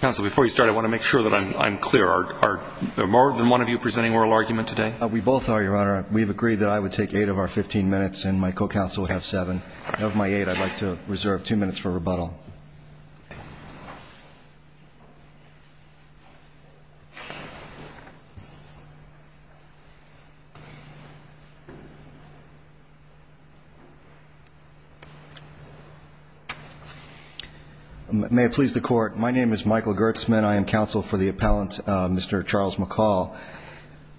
Council, before you start, I want to make sure that I'm clear. Are there more than one of you presenting oral argument today? We both are, Your Honor. We've agreed that I would take eight of our 15 minutes and my co-counsel would have seven. Of my eight, I'd like to reserve two minutes for rebuttal. May it please the Court. My name is Michael Gertzman. I am counsel for the appellant, Mr. Charles McCall.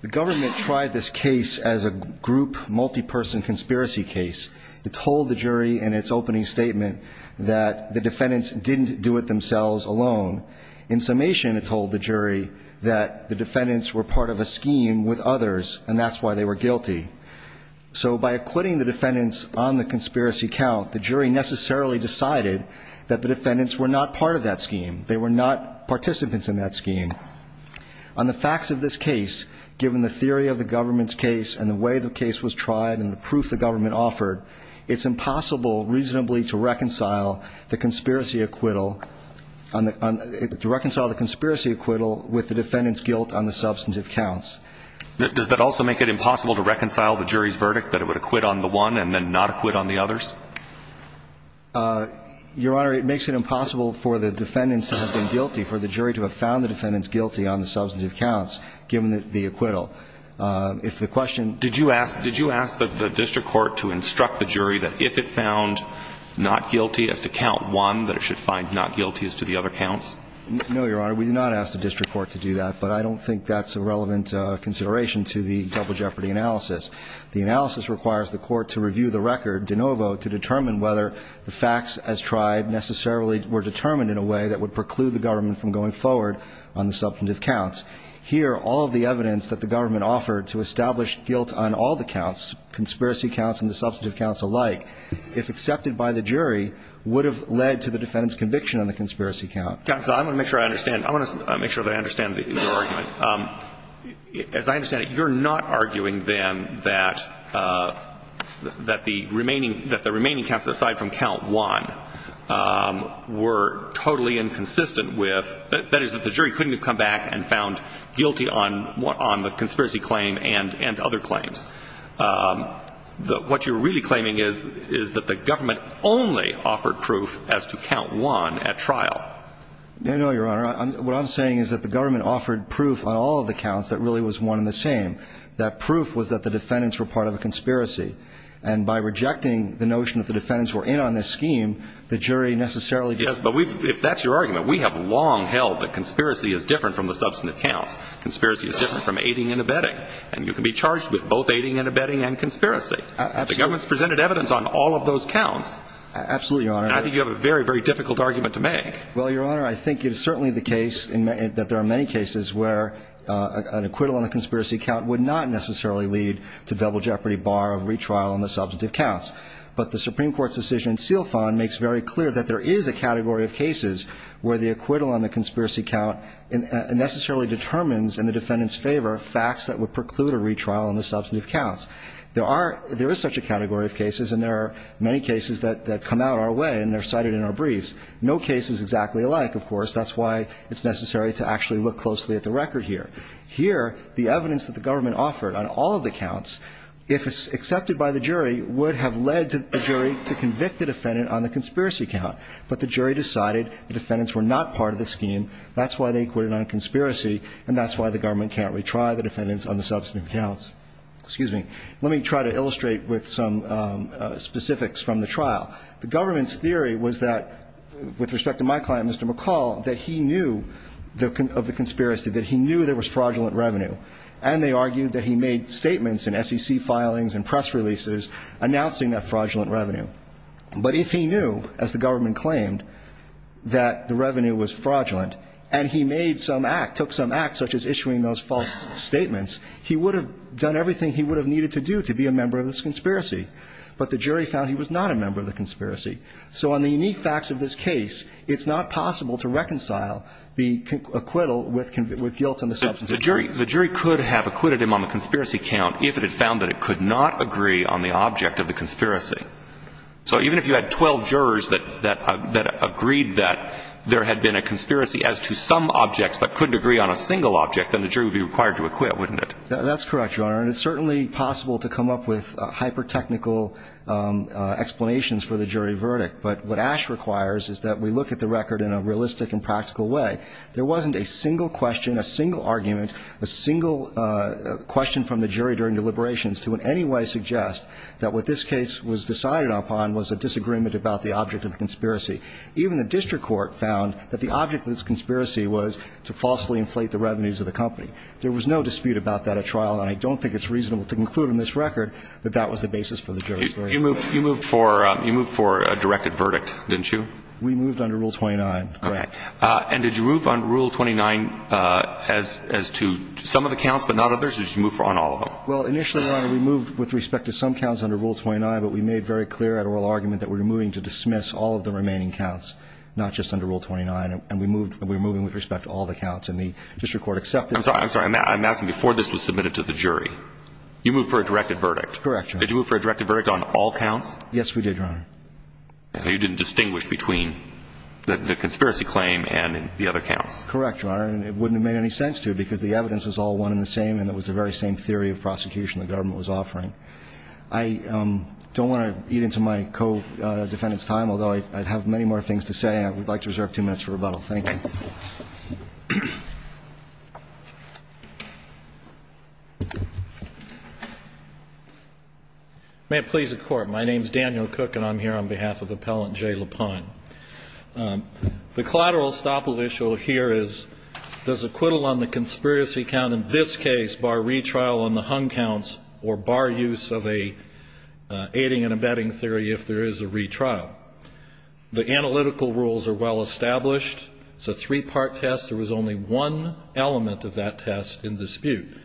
The government tried this case as a group, multi-person conspiracy case. It told the jury in its opening statement that the defendants didn't do it themselves alone. In summation, it told the jury that the defendants were part of a scheme with others and that's why they were guilty. So by acquitting the defendants on the conspiracy count, the jury necessarily decided that the defendants were not part of that scheme. They were not participants in that scheme. On the facts of this case, given the theory of the government's case and the way the case was tried and the proof the government offered, it's impossible reasonably to reconcile the conspiracy acquittal with the defendants' guilt on the substantive counts. Does that also make it impossible to reconcile the jury's verdict that it would acquit on the one and then not acquit on the others? Your Honor, it makes it impossible for the defendants to have been guilty, for the jury to have found the defendants guilty on the substantive counts, given the acquittal. If the question – Did you ask the district court to instruct the jury that if it found not guilty as to count one, that it should find not guilty as to the other counts? No, Your Honor. We did not ask the district court to do that, but I don't think that's a relevant consideration to the double jeopardy analysis. The analysis requires the court to review the record de novo to determine whether the facts as tried necessarily were determined in a way that would preclude the government from going forward on the substantive counts. Here, all of the evidence that the government offered to establish guilt on all the counts, conspiracy counts and the substantive counts alike, if accepted by the jury, would have led to the defendants' conviction on the conspiracy count. Counsel, I want to make sure I understand – I want to make sure that I understand your argument. As I understand it, you're not arguing, then, that the remaining – that the remaining counts, aside from count one, were totally inconsistent with – that is, that the jury couldn't have come back and found guilty on the conspiracy claim and other claims. What you're really claiming is that the government only offered proof as to count one at trial. No, no, Your Honor. What I'm saying is that the government offered proof on all of the counts that really was one and the same. That proof was that the defendants were part of a conspiracy. And by rejecting the notion that the defendants were in on this scheme, the jury necessarily – Yes, but we've – if that's your argument, we have long held that conspiracy is different from the substantive counts. Conspiracy is different from aiding and abetting. And you can be charged with both aiding and abetting and conspiracy. Absolutely. The government's presented evidence on all of those counts. Absolutely, Your Honor. And I think you have a very, very difficult argument to make. Well, Your Honor, I think it is certainly the case that there are many cases where an acquittal on the conspiracy count would not necessarily lead to double jeopardy, bar of retrial on the substantive counts. But the Supreme Court's decision in Silfon makes very clear that there is a category of cases where the acquittal on the conspiracy count necessarily determines in the defendant's favor facts that would preclude a retrial on the substantive counts. There are – there is such a category of cases, and there are many cases that come out our way, and they're cited in our briefs. No case is exactly alike, of course. That's why it's necessary to actually look closely at the record here. Here, the evidence that the government offered on all of the counts, if accepted by the jury, would have led the jury to convict the defendant on the conspiracy count, but the jury decided the defendants were not part of the scheme. That's why they acquitted on conspiracy, and that's why the government can't retry the defendants on the substantive counts. Excuse me. Let me try to illustrate with some specifics from the trial. The government's theory was that, with respect to my client, Mr. McCall, that he knew of the conspiracy, that he knew there was fraudulent revenue. And they argued that he made statements in SEC filings and press releases announcing that fraudulent revenue. But if he knew, as the government claimed, that the revenue was fraudulent, and he made some act, took some act, such as issuing those false statements, he would have done everything he would have needed to do to be a member of this conspiracy. But the jury found he was not a member of the conspiracy. So on the unique facts of this case, it's not possible to reconcile the acquittal with guilt on the substantive count. The jury could have acquitted him on the conspiracy count if it had found that it could not agree on the object of the conspiracy. So even if you had 12 jurors that agreed that there had been a conspiracy as to some objects, but couldn't agree on a single object, then the jury would be required to acquit, wouldn't it? That's correct, Your Honor. And it's certainly possible to come up with hyper-technical explanations for the jury verdict. But what Ash requires is that we look at the record in a realistic and practical way. And we do so in a way that we can convince the jury during deliberations to in any way suggest that what this case was decided upon was a disagreement about the object of the conspiracy. Even the district court found that the object of this conspiracy was to falsely inflate the revenues of the company. There was no dispute about that at trial. And I don't think it's reasonable to conclude on this record that that was the basis for the jury's verdict. You moved for a directed verdict, didn't you? We moved under Rule 29. Okay. And did you move on Rule 29 as to some of the counts but not others? Or did you move on all of them? Well, initially, Your Honor, we moved with respect to some counts under Rule 29, but we made very clear at oral argument that we were moving to dismiss all of the remaining counts, not just under Rule 29. And we were moving with respect to all the counts. And the district court accepted that. I'm sorry. I'm asking before this was submitted to the jury. You moved for a directed verdict. Correct, Your Honor. Did you move for a directed verdict on all counts? Yes, we did, Your Honor. So you didn't distinguish between the conspiracy claim and the other counts? Correct, Your Honor. And it wouldn't have made any sense to because the evidence was all one in the same and it was the very same theory of prosecution the government was offering. I don't want to eat into my co-defendant's time, although I have many more things to say, and I would like to reserve two minutes for rebuttal. Thank you. May it please the Court. My name is Daniel Cook and I'm here on behalf of Appellant Jay Lapine. The collateral estoppel issue here is does acquittal on the conspiracy count in this case bar retrial on the hung counts or bar use of a aiding and abetting theory if there is a retrial? The analytical rules are well established. It's a three-part test. There was only one element of that test in dispute.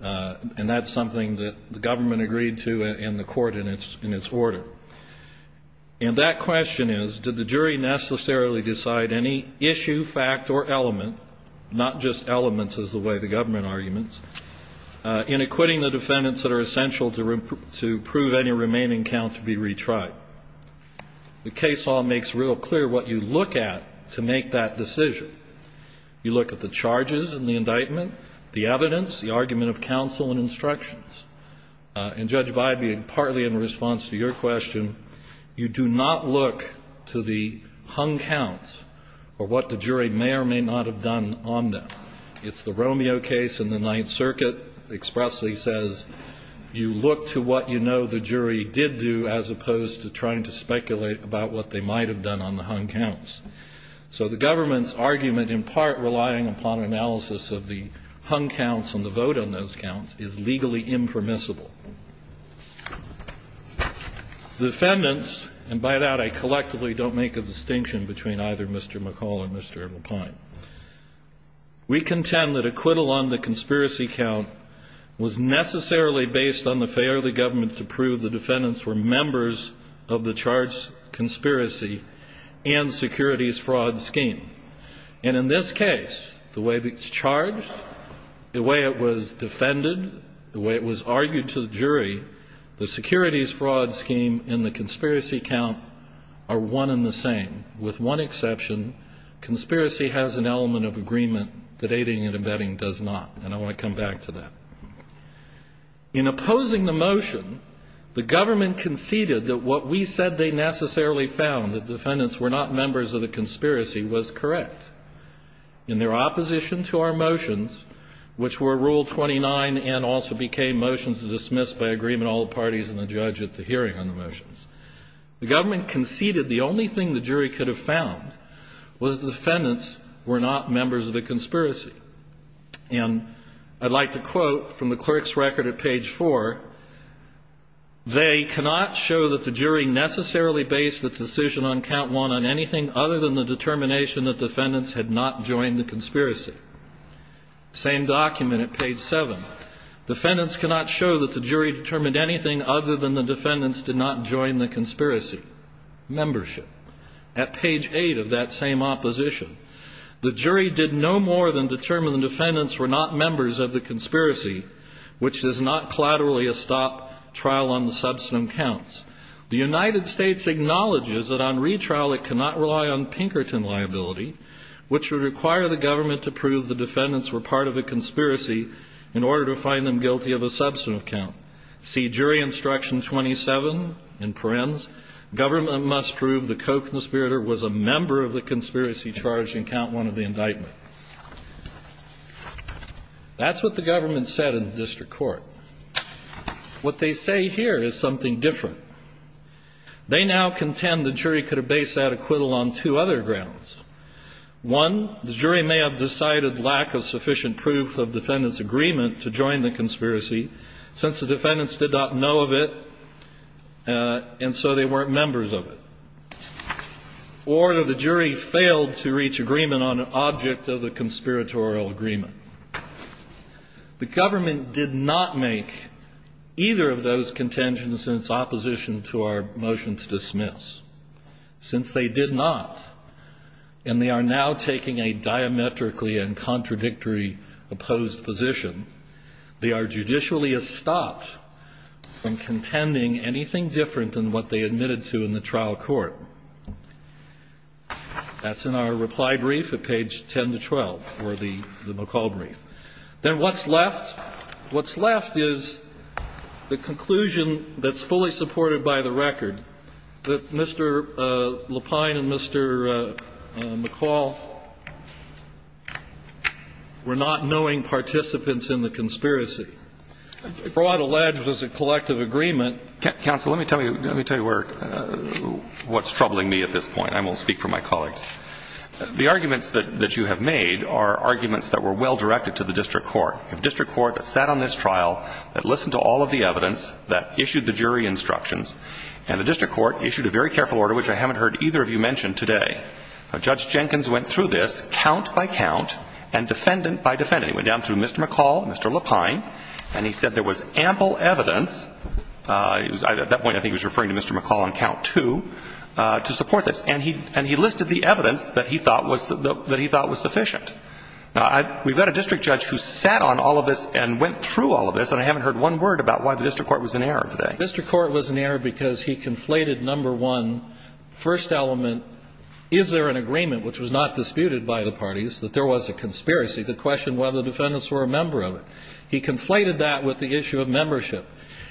And that's something that the government agreed to in the court in its order. And that question is, did the jury necessarily decide any issue, fact, or element not just elements is the way the government arguments, in acquitting the defendants that are essential to prove any remaining count to be retried? The case law makes real clear what you look at to make that decision. You look at the charges in the indictment, the evidence, the argument of counsel and instructions. And Judge Bybee, partly in response to your question, you do not look to the hung counts or what the jury may or may not have done on them. It's the Romeo case in the Ninth Circuit. It expressly says you look to what you know the jury did do as opposed to trying to speculate about what they might have done on the hung counts. So the government's argument, in part relying upon analysis of the hung counts and the vote on those counts, is legally impermissible. The defendants, and by that I collectively don't make a distinction between either Mr. McCall or Mr. McPine, we contend that acquittal on the conspiracy count was necessarily based on the failure of the government to prove the defendants were And in this case, the way it's charged, the way it was defended, the way it was argued to the jury, the securities fraud scheme and the conspiracy count are one and the same. With one exception, conspiracy has an element of agreement that aiding and abetting does not. And I want to come back to that. In opposing the motion, the government conceded that what we said they necessarily found, that the defendants were not members of the conspiracy, was correct. In their opposition to our motions, which were Rule 29 and also became motions to dismiss by agreement all the parties and the judge at the hearing on the motions, the government conceded the only thing the jury could have found was the defendants were not members of the conspiracy. And I'd like to quote from the clerk's record at page 4, they cannot show that the jury necessarily based its decision on count one on anything other than the determination that defendants had not joined the conspiracy. Same document at page 7. Defendants cannot show that the jury determined anything other than the defendants did not join the conspiracy. Membership. At page 8 of that same opposition. The jury did no more than determine the defendants were not members of the conspiracy, which does not collaterally stop trial on the substantive counts. The United States acknowledges that on retrial it cannot rely on Pinkerton liability, which would require the government to prove the defendants were part of a conspiracy in order to find them guilty of a substantive count. See jury instruction 27 in Perens. Government must prove the co-conspirator was a member of the conspiracy charge in count one of the indictment. That's what the government said in the district court. What they say here is something different. They now contend the jury could have based that acquittal on two other grounds. One, the jury may have decided lack of sufficient proof of defendant's agreement to join the conspiracy since the defendants did not know of it and so they weren't members of it. Or that the jury failed to reach agreement on an object of a conspiratorial agreement. The government did not make either of those contentions in its opposition to our motion to dismiss. Since they did not, and they are now taking a diametrically and contradictory opposed position, they are judicially estopped from contending anything different than what they admitted to in the trial court. That's in our reply brief at page 10 to 12 for the McCall brief. Then what's left? What's left is the conclusion that's fully supported by the record, that Mr. Lapine and Mr. McCall were not knowing participants in the conspiracy. The broad allege was a collective agreement. Counsel, let me tell you what's troubling me at this point. I will speak for my colleagues. The arguments that you have made are arguments that were well directed to the district court. A district court that sat on this trial, that listened to all of the evidence, that issued the jury instructions. And the district court issued a very careful order, which I haven't heard either Judge Jenkins went through this count by count and defendant by defendant. He went down to Mr. McCall, Mr. Lapine, and he said there was ample evidence, at that point I think he was referring to Mr. McCall on count two, to support this. And he listed the evidence that he thought was sufficient. Now, we've got a district judge who sat on all of this and went through all of this, and I haven't heard one word about why the district court was in error today. The district court was in error because he conflated, number one, first element, is there an agreement, which was not disputed by the parties, that there was a conspiracy? The question whether the defendants were a member of it. He conflated that with the issue of membership.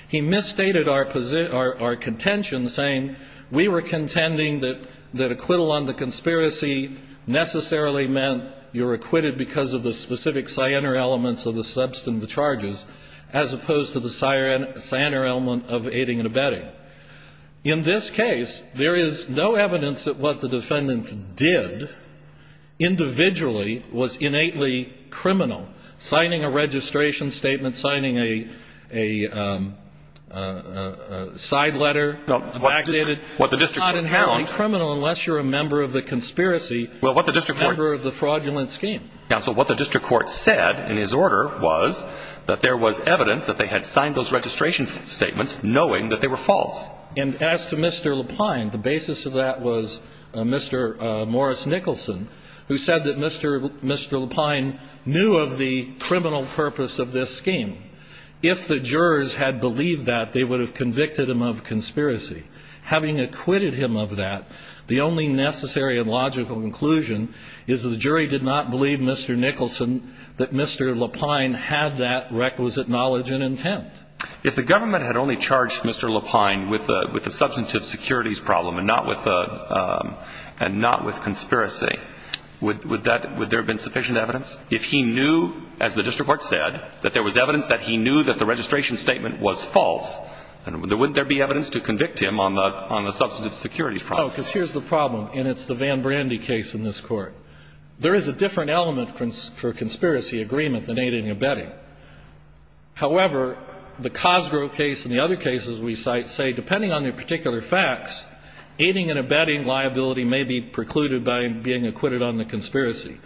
He misstated our contention, saying we were contending that acquittal on the conspiracy necessarily meant you're acquitted because of the specific cyanar elements of the substantive charges, as opposed to the cyanar element of aiding and abetting. In this case, there is no evidence that what the defendants did individually was innately criminal. Signing a registration statement, signing a side letter, a backdated. It's not inherently criminal unless you're a member of the conspiracy, a member of the fraudulent scheme. Counsel, what the district court said in his order was that there was evidence that they had signed those registration statements knowing that they were false. And as to Mr. Lapline, the basis of that was Mr. Morris Nicholson, who said that Mr. Lapline knew of the criminal purpose of this scheme. If the jurors had believed that, they would have convicted him of conspiracy. Having acquitted him of that, the only necessary and logical conclusion is the jury did not believe Mr. Nicholson that Mr. Lapline had that requisite knowledge and intent. If the government had only charged Mr. Lapline with a substantive securities problem and not with conspiracy, would there have been sufficient evidence? If he knew, as the district court said, that there was evidence that he knew that the registration statement was false, wouldn't there be evidence to convict him on the substantive securities problem? No, because here's the problem, and it's the Van Brandy case in this Court. There is a different element for conspiracy agreement than aiding and abetting. However, the Cosgrove case and the other cases we cite say, depending on the particular facts, aiding and abetting liability may be precluded by being acquitted on the conspiracy.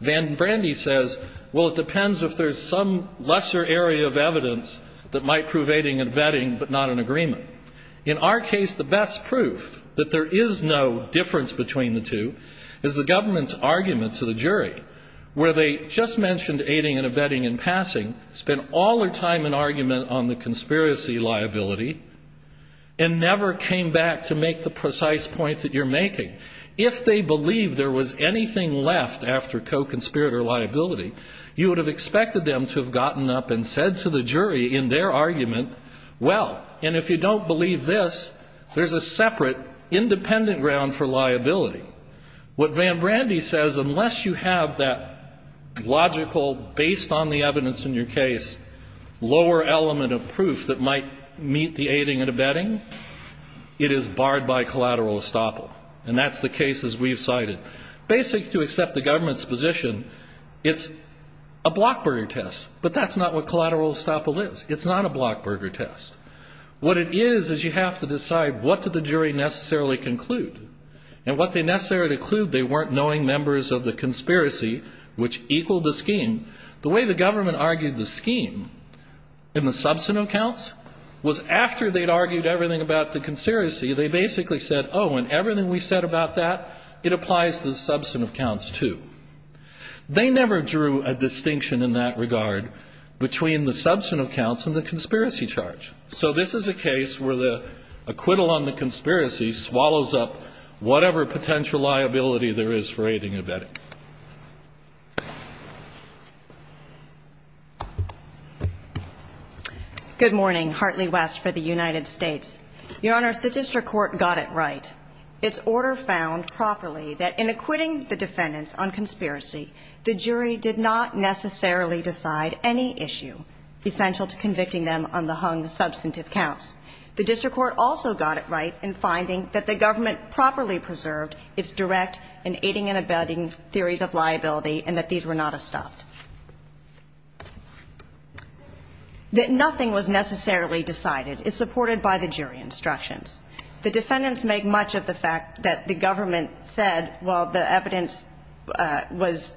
Van Brandy says, well, it depends if there's some lesser area of evidence that might prove aiding and abetting but not an agreement. In our case, the best proof that there is no difference between the two is the government's argument to the jury, where they just mentioned aiding and abetting in passing, spent all their time in argument on the conspiracy liability, and never came back to make the precise point that you're making. If they believed there was anything left after co-conspirator liability, you would have expected them to have gotten up and said to the jury in their argument, well, and if you don't believe this, there's a separate independent ground for liability. What Van Brandy says, unless you have that logical, based on the evidence in your case, it is barred by collateral estoppel. And that's the case as we've cited. Basically, to accept the government's position, it's a blockburger test, but that's not what collateral estoppel is. It's not a blockburger test. What it is is you have to decide what did the jury necessarily conclude. And what they necessarily concluded, they weren't knowing members of the conspiracy, which equaled the scheme. The way the government argued the scheme in the substantive accounts was after they concluded the conspiracy, they basically said, oh, and everything we said about that, it applies to the substantive counts, too. They never drew a distinction in that regard between the substantive counts and the conspiracy charge. So this is a case where the acquittal on the conspiracy swallows up whatever potential liability there is for aiding and abetting. MS. HARTLEY-WEST Good morning. Hartley-West for the United States. Your Honors, the district court got it right. Its order found properly that in acquitting the defendants on conspiracy, the jury did not necessarily decide any issue essential to convicting them on the hung substantive counts. The district court also got it right in finding that the government properly preserved its direct in aiding and abetting theories of liability and that these were not estopped. That nothing was necessarily decided is supported by the jury instructions. The defendants make much of the fact that the government said while the evidence was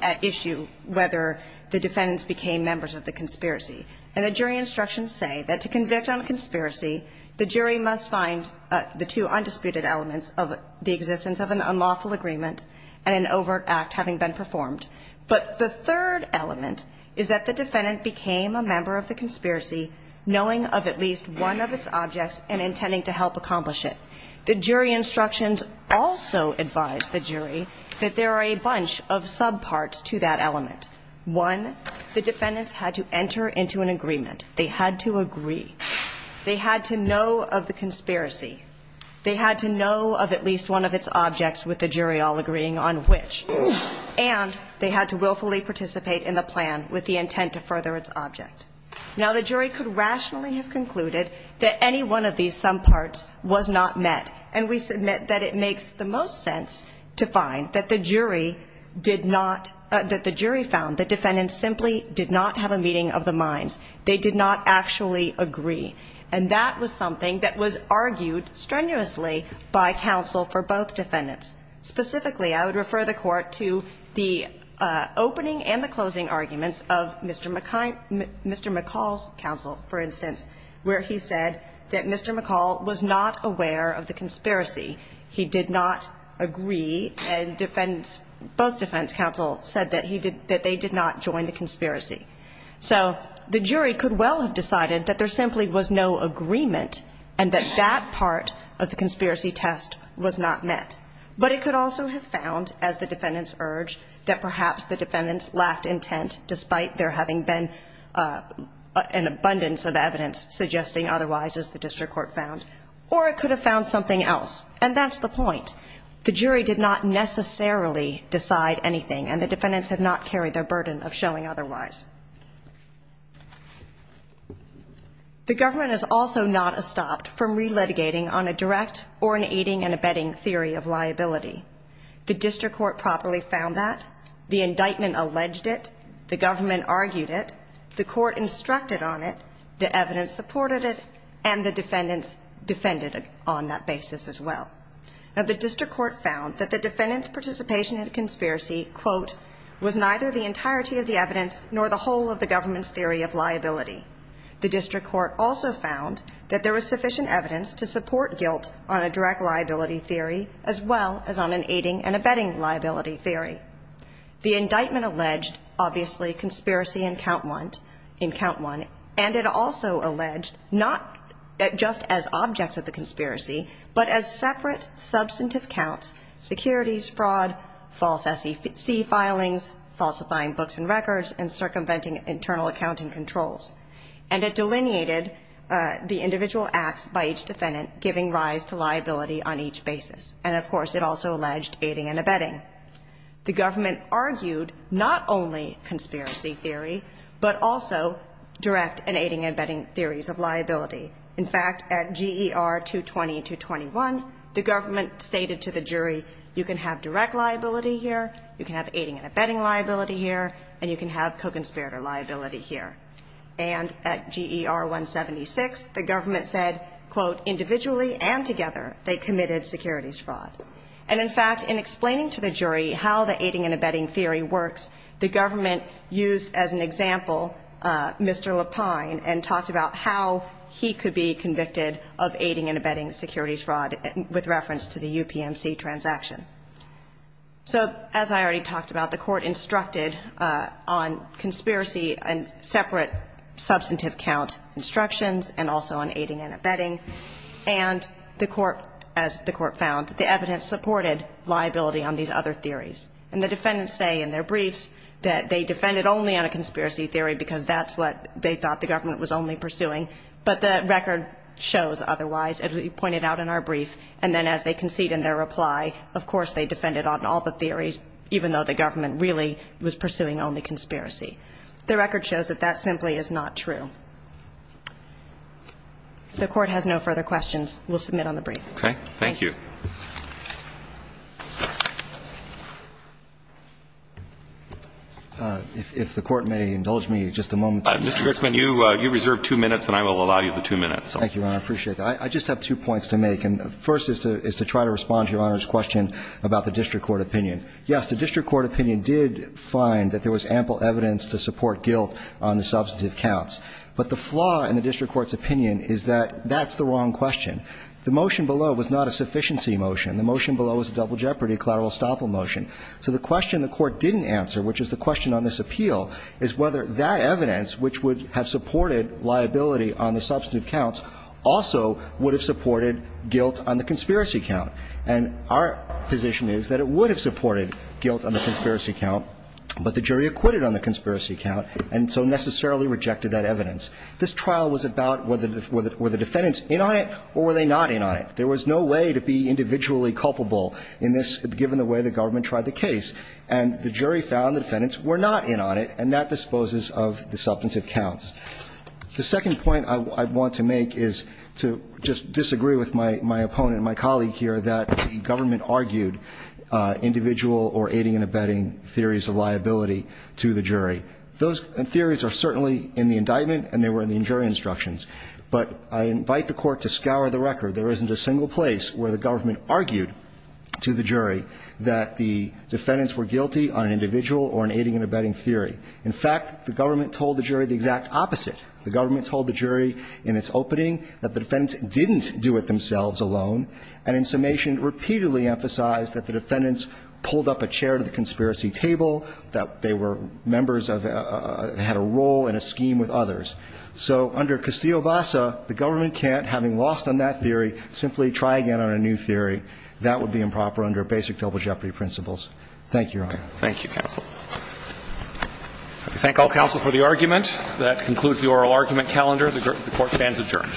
at issue whether the defendants became members of the conspiracy. And the jury instructions say that to convict on conspiracy, the jury must find the two undisputed elements of the existence of an unlawful agreement and an overt act having been performed. But the third element is that the defendant became a member of the conspiracy knowing of at least one of its objects and intending to help accomplish it. The jury instructions also advise the jury that there are a bunch of subparts to that element. One, the defendants had to enter into an agreement. They had to agree. They had to know of the conspiracy. They had to know of at least one of its objects with the jury all agreeing on which. And they had to willfully participate in the plan with the intent to further its object. Now, the jury could rationally have concluded that any one of these subparts was not met. And we submit that it makes the most sense to find that the jury did not, that the jury found the defendants simply did not have a meeting of the minds. They did not actually agree. And that was something that was argued strenuously by counsel for both defendants. Specifically, I would refer the Court to the opening and the closing arguments of Mr. McCall's counsel, for instance, where he said that Mr. McCall was not aware of the conspiracy. He did not agree. And both defense counsel said that they did not join the conspiracy. So the jury could well have decided that there simply was no agreement and that that part of the conspiracy test was not met. But it could also have found, as the defendants urged, that perhaps the defendants lacked intent despite there having been an abundance of evidence suggesting otherwise, as the district court found. Or it could have found something else. And that's the point. The jury did not necessarily decide anything. And the defendants had not carried their burden of showing otherwise. The government is also not stopped from relitigating on a direct or an aiding and abetting theory of liability. The district court properly found that. The indictment alleged it. The government argued it. The court instructed on it. The evidence supported it. And the defendants defended it on that basis as well. Now, the district court found that the defendants' participation in the conspiracy, quote, was neither the entirety of the evidence nor the whole of the government's theory of liability. The district court also found that there was sufficient evidence to support guilt on a direct liability theory as well as on an aiding and abetting liability theory. The indictment alleged, obviously, conspiracy in count one. And it also alleged not just as objects of the conspiracy, but as separate substantive counts, securities fraud, false SEC filings, falsifying books and records, and circumventing internal accounting controls. And it delineated the individual acts by each defendant, giving rise to liability on each basis. And, of course, it also alleged aiding and abetting. The government argued not only conspiracy theory, but also direct and aiding and abetting theories of liability. In fact, at GER 220-221, the government stated to the jury, you can have direct liability here, you can have aiding and abetting liability here, and you can have co-conspirator liability here. And at GER 176, the government said, quote, individually and together they committed securities fraud. And, in fact, in explaining to the jury how the aiding and abetting theory works, the government used as an example Mr. Lapine and talked about how he, he could be convicted of aiding and abetting securities fraud with reference to the UPMC transaction. So, as I already talked about, the court instructed on conspiracy and separate substantive count instructions and also on aiding and abetting. And the court, as the court found, the evidence supported liability on these other theories. And the defendants say in their briefs that they defended only on a conspiracy theory because that's what they thought the government was only pursuing. But the record shows otherwise, as we pointed out in our brief. And then as they concede in their reply, of course, they defended on all the theories, even though the government really was pursuing only conspiracy. The record shows that that simply is not true. If the court has no further questions, we'll submit on the brief. Okay. If the court may indulge me just a moment. Mr. Gershman, you reserve two minutes and I will allow you the two minutes. Thank you, Your Honor. I appreciate that. I just have two points to make. And the first is to try to respond to Your Honor's question about the district court opinion. Yes, the district court opinion did find that there was ample evidence to support guilt on the substantive counts. But the flaw in the district court's opinion is that that's the wrong question. The motion below was not a sufficiency motion. The motion below was a double jeopardy, a collateral estoppel motion. So the question the court didn't answer, which is the question on this appeal, is whether that evidence, which would have supported liability on the substantive counts, also would have supported guilt on the conspiracy count. And our position is that it would have supported guilt on the conspiracy count, but the jury acquitted on the conspiracy count and so necessarily rejected that evidence. This trial was about whether the defendants in on it or were they not in on it. There was no way to be individually culpable in this, given the way the government tried the case. And the jury found the defendants were not in on it, and that disposes of the substantive counts. The second point I want to make is to just disagree with my opponent, my colleague here, that the government argued individual or aiding and abetting theories of liability to the jury. Those theories are certainly in the indictment and they were in the jury instructions. But I invite the Court to scour the record. There isn't a single place where the government argued to the jury that the defendants were guilty on an individual or an aiding and abetting theory. In fact, the government told the jury the exact opposite. The government told the jury in its opening that the defendants didn't do it themselves alone, and in summation repeatedly emphasized that the defendants pulled up a chair to the conspiracy table, that they were members of the – had a role and a scheme with others. So under Castillo-Bassa, the government can't, having lost on that theory, simply try again on a new theory. That would be improper under basic double jeopardy principles. Thank you, Your Honor. Thank you, counsel. I thank all counsel for the argument. That concludes the oral argument calendar. The Court stands adjourned.